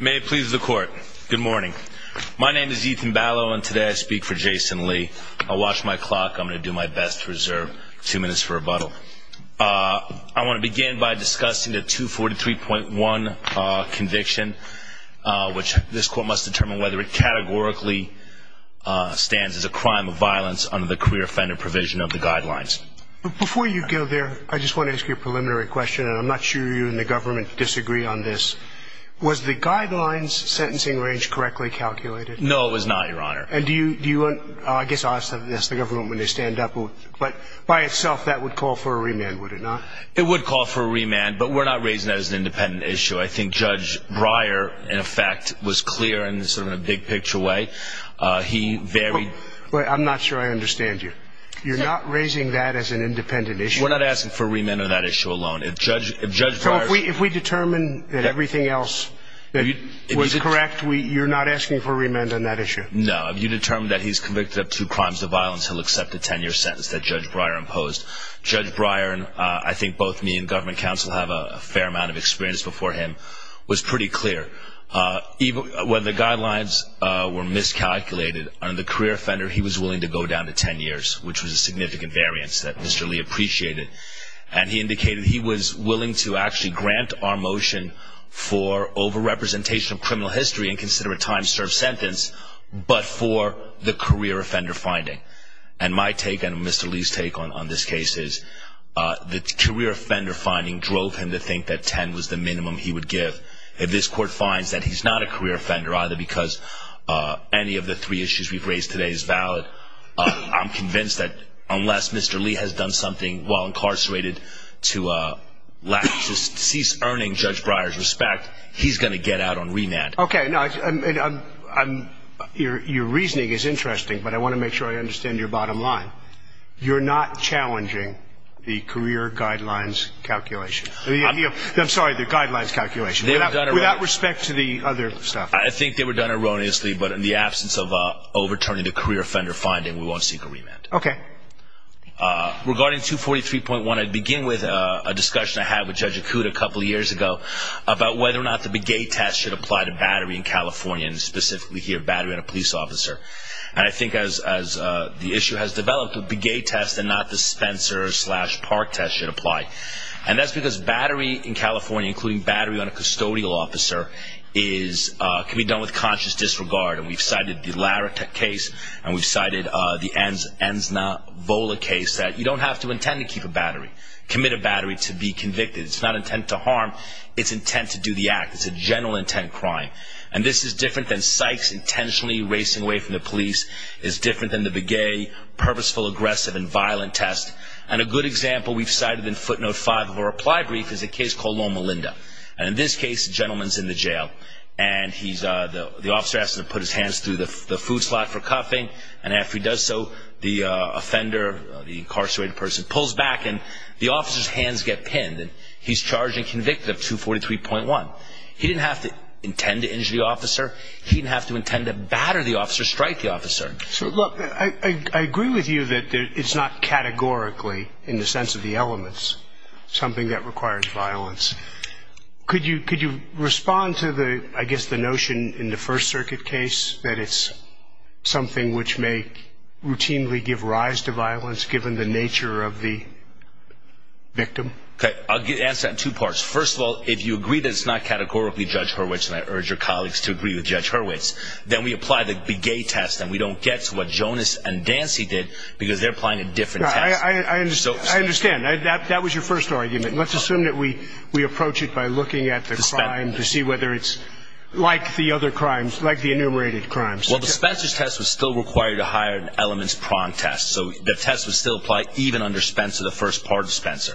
May it please the court. Good morning. My name is Ethan Ballo and today I speak for Jason Lee. I'll watch my clock. I'm going to do my best to reserve two minutes for rebuttal. I want to begin by discussing the 243.1 conviction, which this court must determine whether it categorically stands as a crime of violence under the career offender provision of the guidelines. Before you go there, I just want to ask you a preliminary question, and I'm not sure you and the government disagree on this. Was the guidelines sentencing range correctly calculated? No, it was not, Your Honor. And do you want, I guess I'll ask the government when they stand up, but by itself that would call for a remand, would it not? It would call for a remand, but we're not raising that as an independent issue. I think Judge Breyer, in effect, was clear in sort of a big picture way. He varied. But I'm not sure I understand you. You're not raising that as an independent issue? We're not asking for remand on that issue alone. If Judge Breyer... So if we determine that everything else that was correct, you're not asking for remand on that issue? No. If you determine that he's convicted of two crimes of violence, he'll accept a 10-year sentence that Judge Breyer imposed. Judge Breyer, and I think both me and government counsel have a fair amount of experience before him, was pretty clear. When the guidelines were miscalculated on the career offender, he was willing to go down to 10 years, which was a significant variance that Mr. Lee appreciated. And he indicated he was willing to actually grant our motion for over-representation of criminal history and consider a time-served sentence, but for the career offender finding. And my take and Mr. Lee's take on this case is the career offender finding drove him to think that 10 was the minimum he would give. If this court finds that he's not a career offender either because any of the three issues we've raised today is valid, I'm convinced that unless Mr. Lee has done something while incarcerated to cease earning Judge Breyer's respect, he's going to get out on remand. Okay. Your reasoning is interesting, but I want to make sure I understand your bottom line. You're not challenging the career guidelines calculation. I'm sorry, the guidelines calculation without respect to the other stuff. I think they were done erroneously, but in the absence of overturning the career offender finding, we won't seek a remand. Okay. Okay. Okay. Okay. Okay. I'll answer that in two parts. First of all, if you agree that it's not categorically Judge Hurwitz, and I urge your colleagues to agree with Judge Hurwitz, then we apply the Begay test and we don't get to what Jonas and Dancy did because they're applying a different test. I understand. That was your first argument. Let's assume that we approach it by looking at the crime to see whether it's like the other crimes, like the enumerated crimes. Well, the Spencer's test was still required to hire an elements prompt test, so the test would still apply even under Spencer, the first part of Spencer.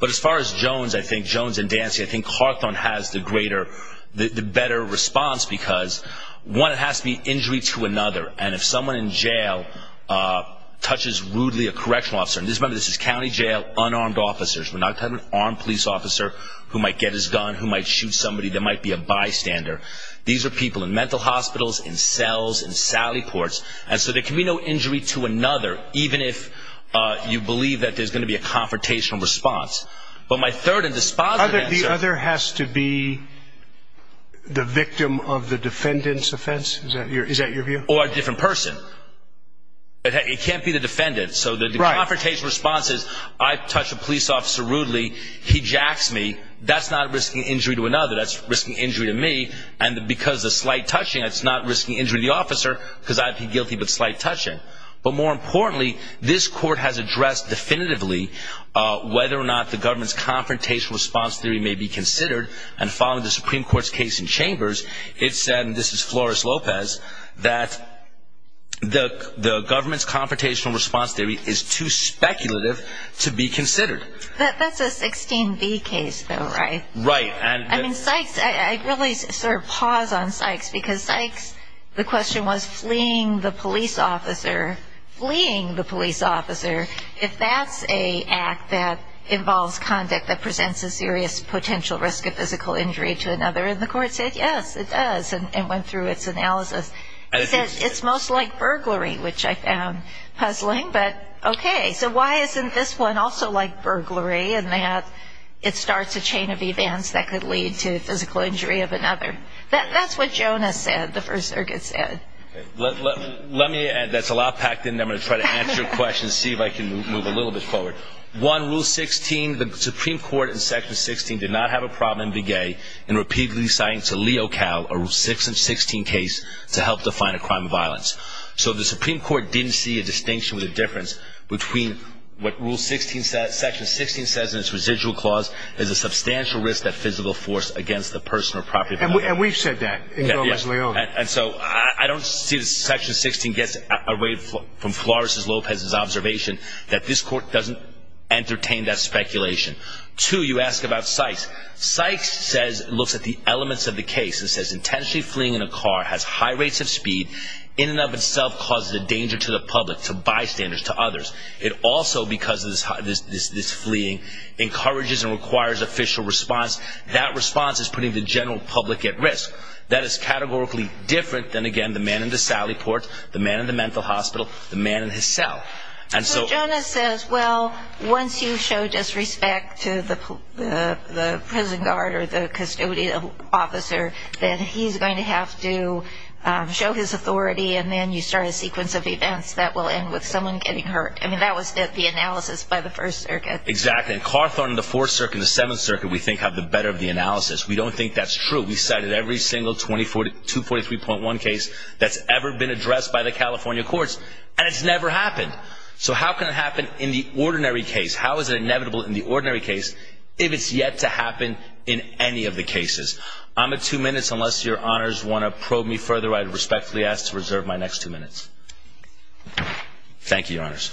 But as far as Jones, I think Jones and Dancy, I think Clarkton has the greater, the better response because, one, it has to be injury to another, and if someone in jail touches rudely a correctional officer, and remember this is county jail, unarmed officers. We're not talking about an armed police officer who might get his gun, who might shoot somebody, there might be a bystander. These are people in mental hospitals, in cells, in Sally ports, and so there can be no injury to another, even if you believe that there's going to be a confrontational response. But my third and dispositive answer— The other has to be the victim of the defendant's offense? Is that your view? Or a different person. It can't be the defendant. So the confrontational response is, I touch a police officer rudely, he jacks me, that's not risking injury to another, that's risking injury to me, and because of slight touching, that's not risking injury to the officer, because I'd be guilty of slight touching. But more importantly, this court has addressed definitively whether or not the government's confrontational response theory may be considered, and following the Supreme Court's case in Chambers, it said, and this is Flores Lopez, that the government's confrontational response theory is too speculative to be considered. That's a 16B case, though, right? Right. It starts a chain of events that could lead to physical injury of another. That's what Jonas said, the First Circuit said. Let me add, that's a lot packed in, and I'm going to try to answer your questions, see if I can move a little bit forward. One, Rule 16, the Supreme Court, in Section 16, did not have a problem in Big A in repeatedly citing to Leo Cal, a Rule 6 and 16 case, to help define a crime of violence. So the Supreme Court didn't see a distinction or a difference between what Rule 16 says, Section 16 says in its residual clause, there's a substantial risk that physical force against the person or property of the defendant. And we've said that in Gomez-Leon. And so I don't see that Section 16 gets away from Flores Lopez's observation that this court doesn't entertain that speculation. Two, you ask about Sykes. Sykes says, looks at the elements of the case and says, Intentionally fleeing in a car has high rates of speed, in and of itself causes a danger to the public, to bystanders, to others. It also, because of this fleeing, encourages and requires official response. That response is putting the general public at risk. That is categorically different than, again, the man in the Sally Port, the man in the mental hospital, the man in his cell. So Jonas says, well, once you show disrespect to the prison guard or the custodial officer, then he's going to have to show his authority. And then you start a sequence of events that will end with someone getting hurt. I mean, that was the analysis by the First Circuit. Exactly. And Carthorne and the Fourth Circuit and the Seventh Circuit, we think, have the better of the analysis. We don't think that's true. We cited every single 243.1 case that's ever been addressed by the California courts, and it's never happened. So how can it happen in the ordinary case? How is it inevitable in the ordinary case if it's yet to happen in any of the cases? I'm at two minutes. Unless your honors want to probe me further, I respectfully ask to reserve my next two minutes. Thank you, your honors.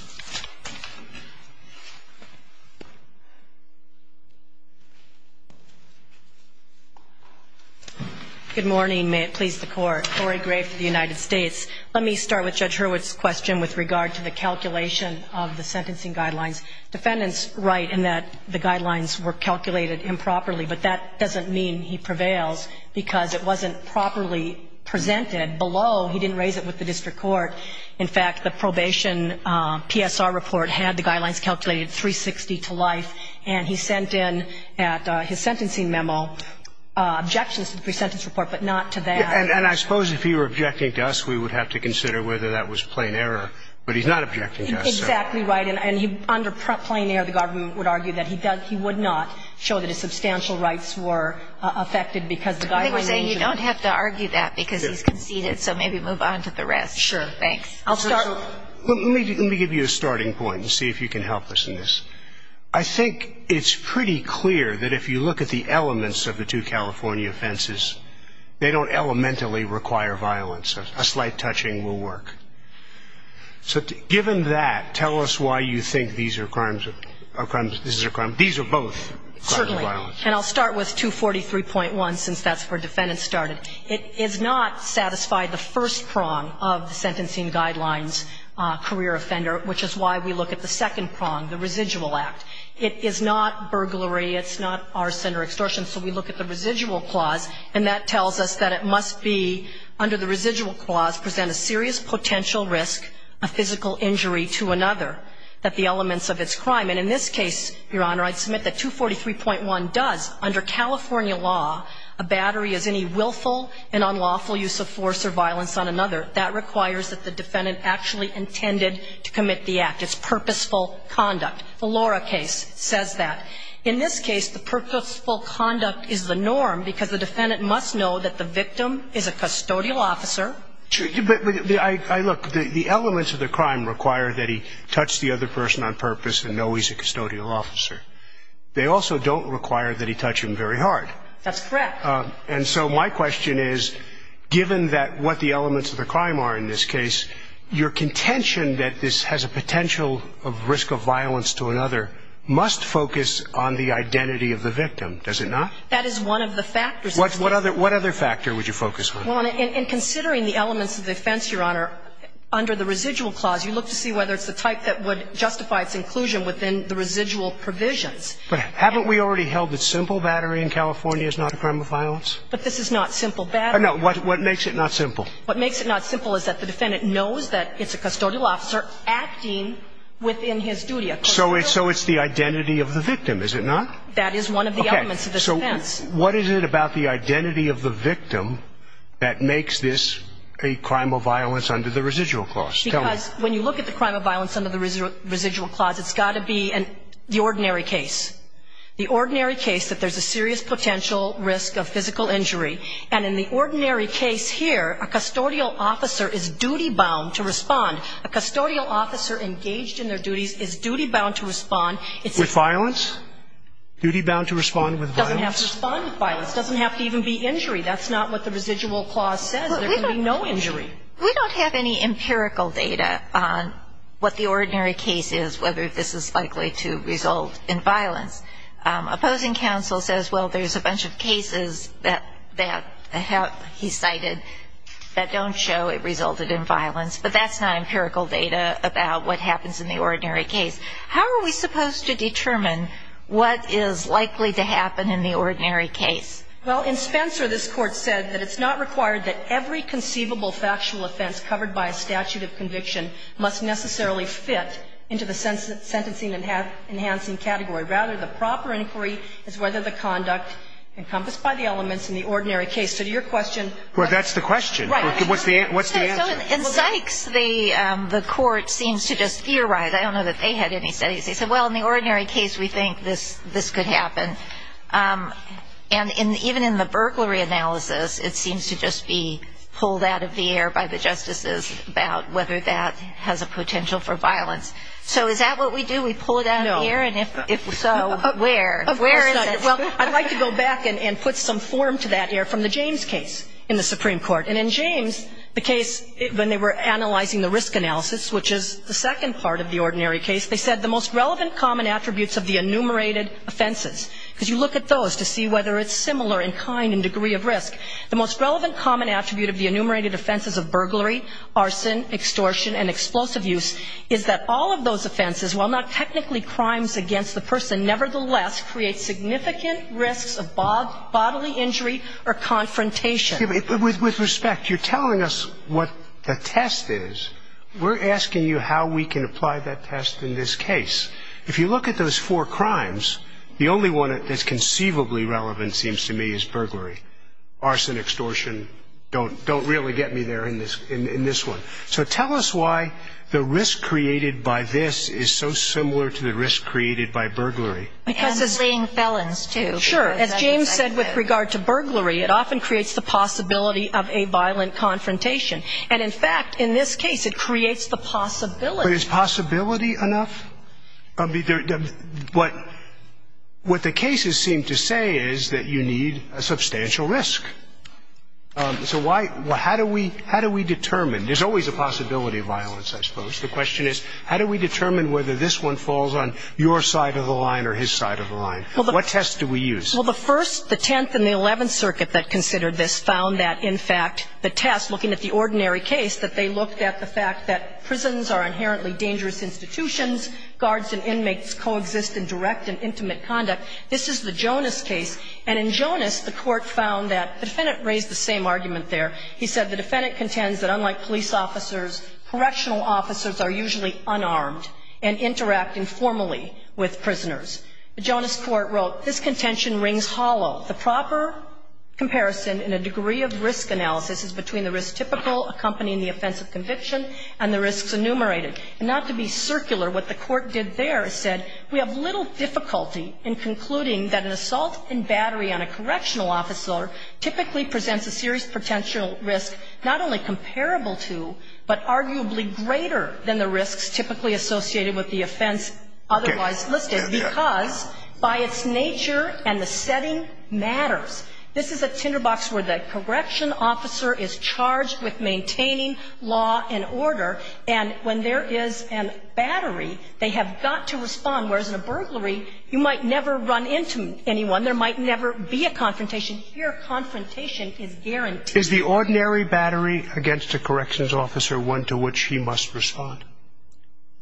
Good morning. May it please the Court. Lori Gray for the United States. Let me start with Judge Hurwitz's question with regard to the calculation of the sentencing guidelines. Defendants write in that the guidelines were calculated improperly, but that doesn't mean he prevails because it wasn't properly presented. Below, he didn't raise it with the district court. In fact, the probation PSR report had the guidelines calculated 360 to life, and he sent in at his sentencing memo objections to the pre-sentence report, but not to that. And I suppose if he were objecting to us, we would have to consider whether that was plain error. But he's not objecting to us. Exactly right. And under plain error, the government would argue that he would not show that his substantial rights were affected because the guidelines were not. I think we're saying you don't have to argue that because he's conceded, so maybe move on to the rest. Sure. Thanks. I'll start. Let me give you a starting point and see if you can help us in this. I think it's pretty clear that if you look at the elements of the two California offenses, they don't elementally require violence. A slight touching will work. So given that, tell us why you think these are crimes of – these are both violent. Certainly. And I'll start with 243.1 since that's where defendants started. It is not satisfied the first prong of the sentencing guidelines career offender, which is why we look at the second prong, the residual act. It is not burglary. It's not arson or extortion. So we look at the residual clause, and that tells us that it must be under the residual clause present a serious potential risk, a physical injury to another, that the elements of its crime. And in this case, Your Honor, I'd submit that 243.1 does, under California law, a battery as any willful and unlawful use of force or violence on another. That requires that the defendant actually intended to commit the act. It's purposeful conduct. The Laura case says that. In this case, the purposeful conduct is the norm because the defendant must know that the victim is a custodial officer. But, look, the elements of the crime require that he touch the other person on purpose and know he's a custodial officer. They also don't require that he touch him very hard. That's correct. And so my question is, given that what the elements of the crime are in this case, your contention that this has a potential of risk of violence to another must focus on the identity of the victim, does it not? That is one of the factors. What other factor would you focus on? Well, in considering the elements of the offense, Your Honor, under the residual clause, you look to see whether it's the type that would justify its inclusion within the residual provisions. But haven't we already held that simple battery in California is not a crime of violence? But this is not simple battery. No. What makes it not simple? What makes it not simple is that the defendant knows that it's a custodial officer acting within his duty. So it's the identity of the victim, is it not? That is one of the elements of this offense. What is it about the identity of the victim that makes this a crime of violence under the residual clause? Because when you look at the crime of violence under the residual clause, it's got to be the ordinary case, the ordinary case that there's a serious potential risk of physical injury. And in the ordinary case here, a custodial officer is duty-bound to respond. A custodial officer engaged in their duties is duty-bound to respond. With violence? Duty-bound to respond with violence? Duty-bound to respond with violence. It doesn't have to even be injury. That's not what the residual clause says. There can be no injury. We don't have any empirical data on what the ordinary case is, whether this is likely to result in violence. Opposing counsel says, well, there's a bunch of cases that he cited that don't show it resulted in violence, but that's not empirical data about what happens in the ordinary case. How are we supposed to determine what is likely to happen in the ordinary case? Well, in Spencer, this Court said that it's not required that every conceivable factual offense covered by a statute of conviction must necessarily fit into the sentencing enhancing category. Rather, the proper inquiry is whether the conduct encompassed by the elements in the ordinary case. So to your question of the question. Well, that's the question. Right. What's the answer? So in Sykes, the Court seems to just theorize. I don't know that they had any studies. They said, well, in the ordinary case, we think this could happen. And even in the burglary analysis, it seems to just be pulled out of the air by the justices about whether that has a potential for violence. So is that what we do? We pull it out of the air? No. And if so, where? Of course not. Well, I'd like to go back and put some form to that here from the James case in the Supreme Court. And in James, the case when they were analyzing the risk analysis, which is the second part of the ordinary case, they said the most relevant common attributes of the enumerated offenses, because you look at those to see whether it's similar in kind and degree of risk, the most relevant common attribute of the enumerated offenses of burglary, arson, extortion and explosive use is that all of those offenses, while not technically crimes against the person, nevertheless create significant risks of bodily injury or confrontation. With respect, you're telling us what the test is. We're asking you how we can apply that test in this case. If you look at those four crimes, the only one that's conceivably relevant seems to me is burglary. Arson, extortion don't really get me there in this one. So tell us why the risk created by this is so similar to the risk created by burglary. And fleeing felons, too. Sure. As James said with regard to burglary, it often creates the possibility of a violent confrontation. And in fact, in this case, it creates the possibility. But is possibility enough? What the cases seem to say is that you need a substantial risk. So why – how do we determine? There's always a possibility of violence, I suppose. The question is how do we determine whether this one falls on your side of the line or his side of the line? What test do we use? Well, the First, the Tenth and the Eleventh Circuit that considered this found that in fact the test, looking at the ordinary case, that they looked at the fact that prisons are inherently dangerous institutions, guards and inmates coexist in direct and intimate conduct. This is the Jonas case. And in Jonas, the Court found that – the Defendant raised the same argument there. He said the Defendant contends that unlike police officers, correctional officers are usually unarmed and interact informally with prisoners. The Jonas Court wrote, This contention rings hollow. The proper comparison in a degree of risk analysis is between the risk typical accompanying the offense of conviction and the risks enumerated. And not to be circular, what the Court did there is said, we have little difficulty in concluding that an assault and battery on a correctional officer typically presents a serious potential risk not only comparable to but arguably greater than the risks typically associated with the offense otherwise listed. Because by its nature and the setting matters. This is a tinderbox where the correctional officer is charged with maintaining law and order. And when there is a battery, they have got to respond. Whereas in a burglary, you might never run into anyone. There might never be a confrontation. Here, confrontation is guaranteed. Is the ordinary battery against a corrections officer one to which he must respond?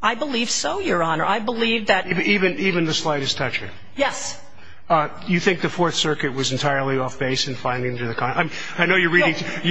I believe so, Your Honor. I believe that. Even the slightest toucher? Yes. You think the Fourth Circuit was entirely off base in finding to the contrary? I know you're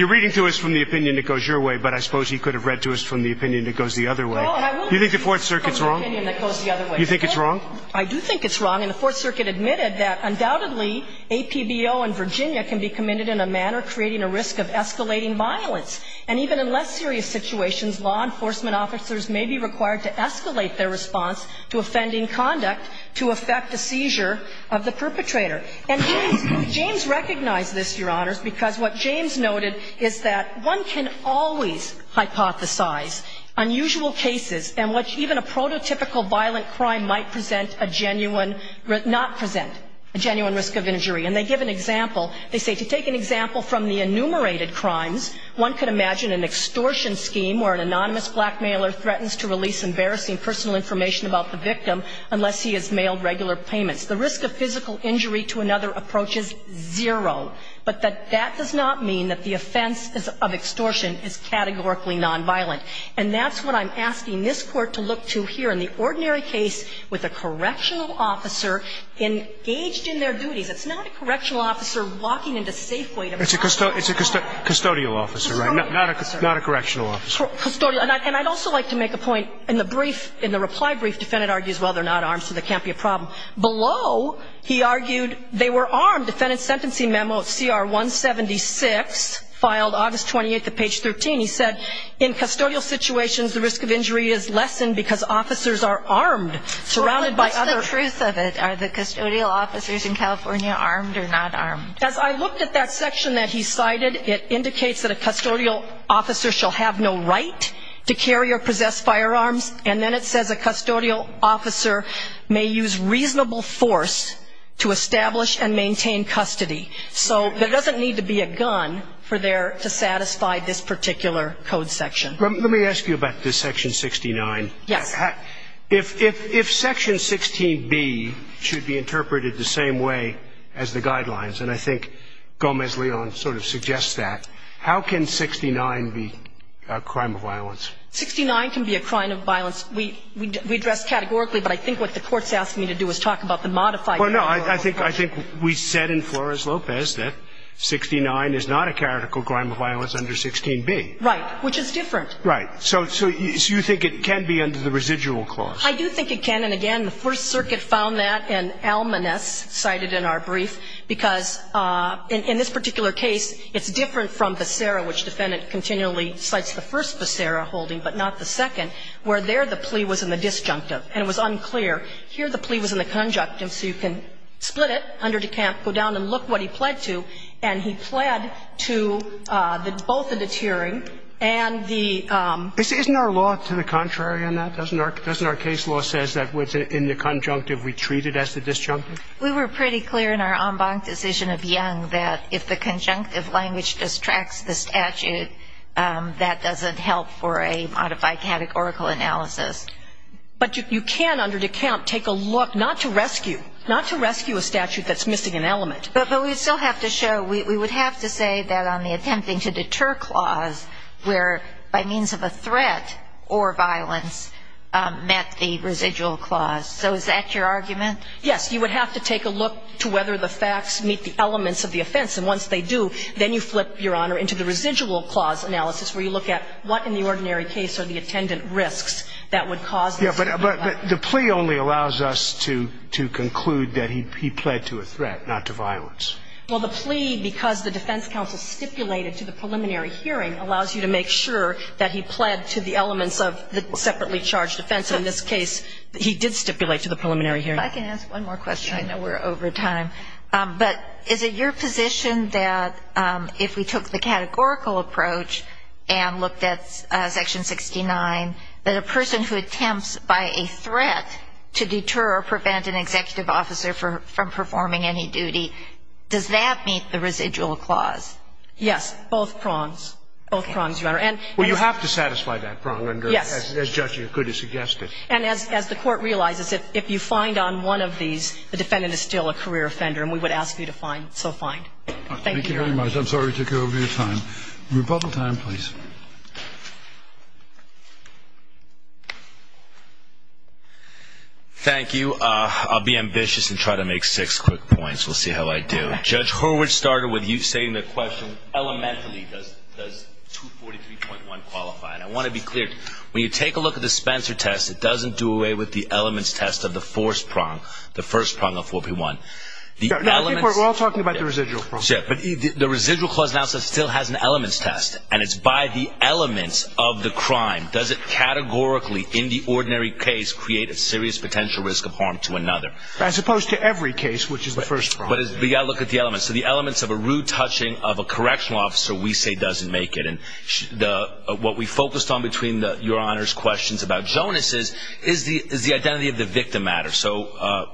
reading to us from the opinion that goes your way, but I suppose you could have read to us from the opinion that goes the other way. No, and I will read to you from the opinion that goes the other way. You think the Fourth Circuit is wrong? I do think it's wrong. And the Fourth Circuit admitted that undoubtedly APBO and Virginia can be committed in a manner creating a risk of escalating violence. And even in less serious situations, law enforcement officers may be required to escalate their response to offending conduct to affect the seizure of the perpetrator. And James recognized this, Your Honors, because what James noted is that one can always hypothesize unusual cases in which even a prototypical violent crime might present a genuine risk, not present, a genuine risk of injury. And they give an example. They say to take an example from the enumerated crimes, one could imagine an extortion scheme where an anonymous blackmailer threatens to release embarrassing personal information about the victim unless he has mailed regular payments. The risk of physical injury to another approaches zero. But that does not mean that the offense of extortion is categorically nonviolent. And that's what I'm asking this Court to look to here in the ordinary case with a correctional officer engaged in their duties. It's a custodial officer, right? Not a correctional officer. And I'd also like to make a point. In the brief, in the reply brief, defendant argues, well, they're not armed, so there can't be a problem. Below, he argued they were armed. Defendant's sentencing memo at CR 176, filed August 28th at page 13. He said, in custodial situations, the risk of injury is lessened because officers are armed, surrounded by other. What's the truth of it? Are the custodial officers in California armed or not armed? As I looked at that section that he cited, it indicates that a custodial officer shall have no right to carry or possess firearms. And then it says a custodial officer may use reasonable force to establish and maintain custody. So there doesn't need to be a gun for there to satisfy this particular code section. Let me ask you about this section 69. Yes. If section 16B should be interpreted the same way as the guidelines, and I think Gomez-Leon sort of suggests that, how can 69 be a crime of violence? 69 can be a crime of violence. We address categorically, but I think what the Court's asking me to do is talk about the modified category. Well, no, I think we said in Flores-Lopez that 69 is not a categorical crime of violence under 16B. Right, which is different. Right. So you think it can be under the residual clause? I do think it can. And again, the First Circuit found that in Almaness, cited in our brief, because in this particular case, it's different from Becerra, which the Defendant continually cites the first Becerra holding, but not the second, where there the plea was in the disjunctive, and it was unclear. Here the plea was in the conjunctive, so you can split it under de camp, go down and look what he pled to, and he pled to both the deterring and the ---- Isn't our law to the contrary on that? Doesn't our case law say that in the conjunctive we treat it as the disjunctive? We were pretty clear in our en banc decision of Young that if the conjunctive language distracts the statute, that doesn't help for a modified categorical analysis. But you can under de camp take a look, not to rescue, not to rescue a statute that's missing an element. But we still have to show, we would have to say that on the attempting to deter clause, where by means of a threat or violence met the residual clause. So is that your argument? Yes. You would have to take a look to whether the facts meet the elements of the offense. And once they do, then you flip, Your Honor, into the residual clause analysis, where you look at what in the ordinary case are the attendant risks that would cause this. Yeah, but the plea only allows us to conclude that he pled to a threat, not to violence. Well, the plea, because the defense counsel stipulated to the preliminary hearing, allows you to make sure that he pled to the elements of the separately charged offense. In this case, he did stipulate to the preliminary hearing. If I can ask one more question. I know we're over time. But is it your position that if we took the categorical approach and looked at Section 69, that a person who attempts by a threat to deter or prevent an offense, does that meet the residual clause? Yes. Both prongs. Okay. Both prongs, Your Honor. Well, you have to satisfy that prong as the judge could have suggested. Yes. And as the Court realizes, if you find on one of these, the defendant is still a career offender. And we would ask you to find. So find. Thank you, Your Honor. Thank you very much. I'm sorry to take over your time. Rebuttal time, please. Thank you. I'll be ambitious and try to make six quick points. We'll see how I do. Judge Hurwitz started with you saying the question, elementally, does 243.1 qualify? And I want to be clear. When you take a look at the Spencer test, it doesn't do away with the elements test of the fourth prong, the first prong of 4P1. No, I think we're all talking about the residual prong. But the residual clause still has an elements test. And it's by the elements of the crime. Does it categorically, in the ordinary case, create a serious potential risk of harm to another? As opposed to every case, which is the first prong. But we've got to look at the elements. So the elements of a rude touching of a correctional officer we say doesn't make it. And what we focused on between Your Honor's questions about Jonas' is the identity of the victim matter. So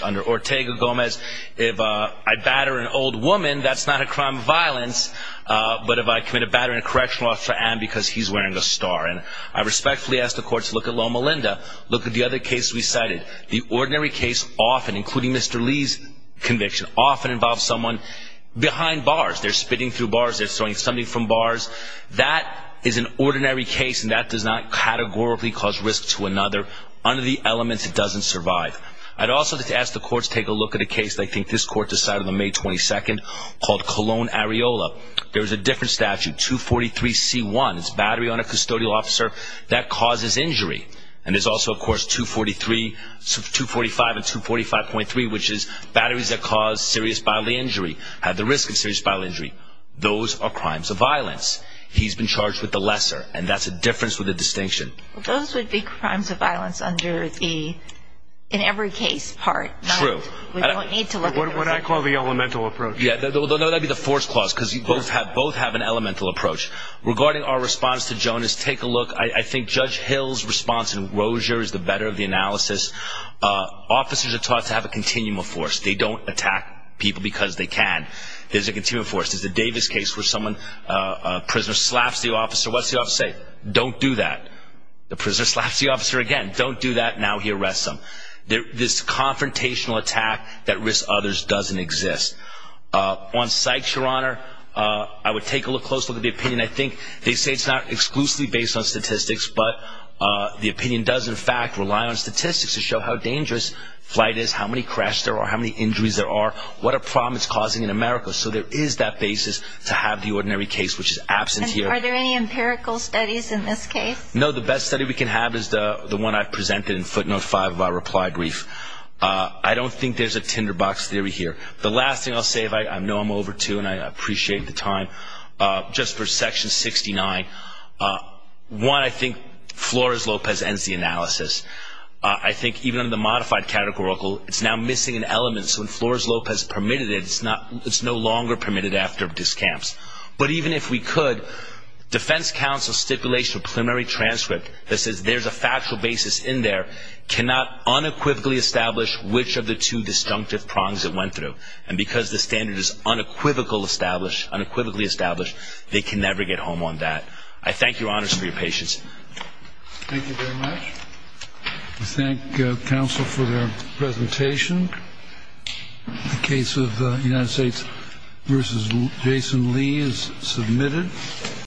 under Ortega-Gomez, if I batter an old woman, that's not a crime of violence. But if I commit a battering of a correctional officer, I am because he's wearing a star. And I respectfully ask the court to look at Loma Linda, look at the other cases we cited. The ordinary case often, including Mr. Lee's conviction, often involves someone behind bars. They're spitting through bars. They're throwing something from bars. That is an ordinary case, and that does not categorically cause risk to another. Under the elements, it doesn't survive. I'd also like to ask the courts to take a look at a case, I think this court decided on May 22nd, called Colon Areola. There was a different statute, 243C1. It's battery on a custodial officer that causes injury. And there's also, of course, 243, 245, and 245.3, which is batteries that cause serious bodily injury, have the risk of serious bodily injury. Those are crimes of violence. He's been charged with the lesser, and that's a difference with a distinction. Those would be crimes of violence under the in-every-case part. True. We don't need to look at those. What I call the elemental approach. Yeah, that would be the force clause, because both have an elemental approach. Regarding our response to Jonas, take a look. I think Judge Hill's response in Rozier is the better of the analysis. Officers are taught to have a continuum of force. They don't attack people because they can. There's a continuum of force. There's a Davis case where someone, a prisoner slaps the officer. What's the officer say? Don't do that. The prisoner slaps the officer again. Don't do that. Now he arrests him. This confrontational attack that risks others doesn't exist. On psychs, Your Honor, I would take a look closely at the opinion. I think they say it's not exclusively based on statistics, but the opinion does, in fact, rely on statistics to show how dangerous flight is, how many crashes there are, how many injuries there are, what a problem it's causing in America. So there is that basis to have the ordinary case, which is absent here. Are there any empirical studies in this case? No. The best study we can have is the one I presented in footnote five of our reply brief. I don't think there's a tinderbox theory here. The last thing I'll say, I know I'm over, too, and I appreciate the time. Just for section 69, one, I think Flores-Lopez ends the analysis. I think even under the modified categorical, it's now missing an element. So when Flores-Lopez permitted it, it's no longer permitted after discamps. But even if we could, defense counsel's stipulation of preliminary transcript that says there's a factual basis in there cannot unequivocally establish which of the two disjunctive prongs it went through. And because the standard is unequivocally established, they can never get home on that. I thank your honors for your patience. Thank you very much. We thank counsel for their presentation. The case of United States v. Jason Lee is submitted.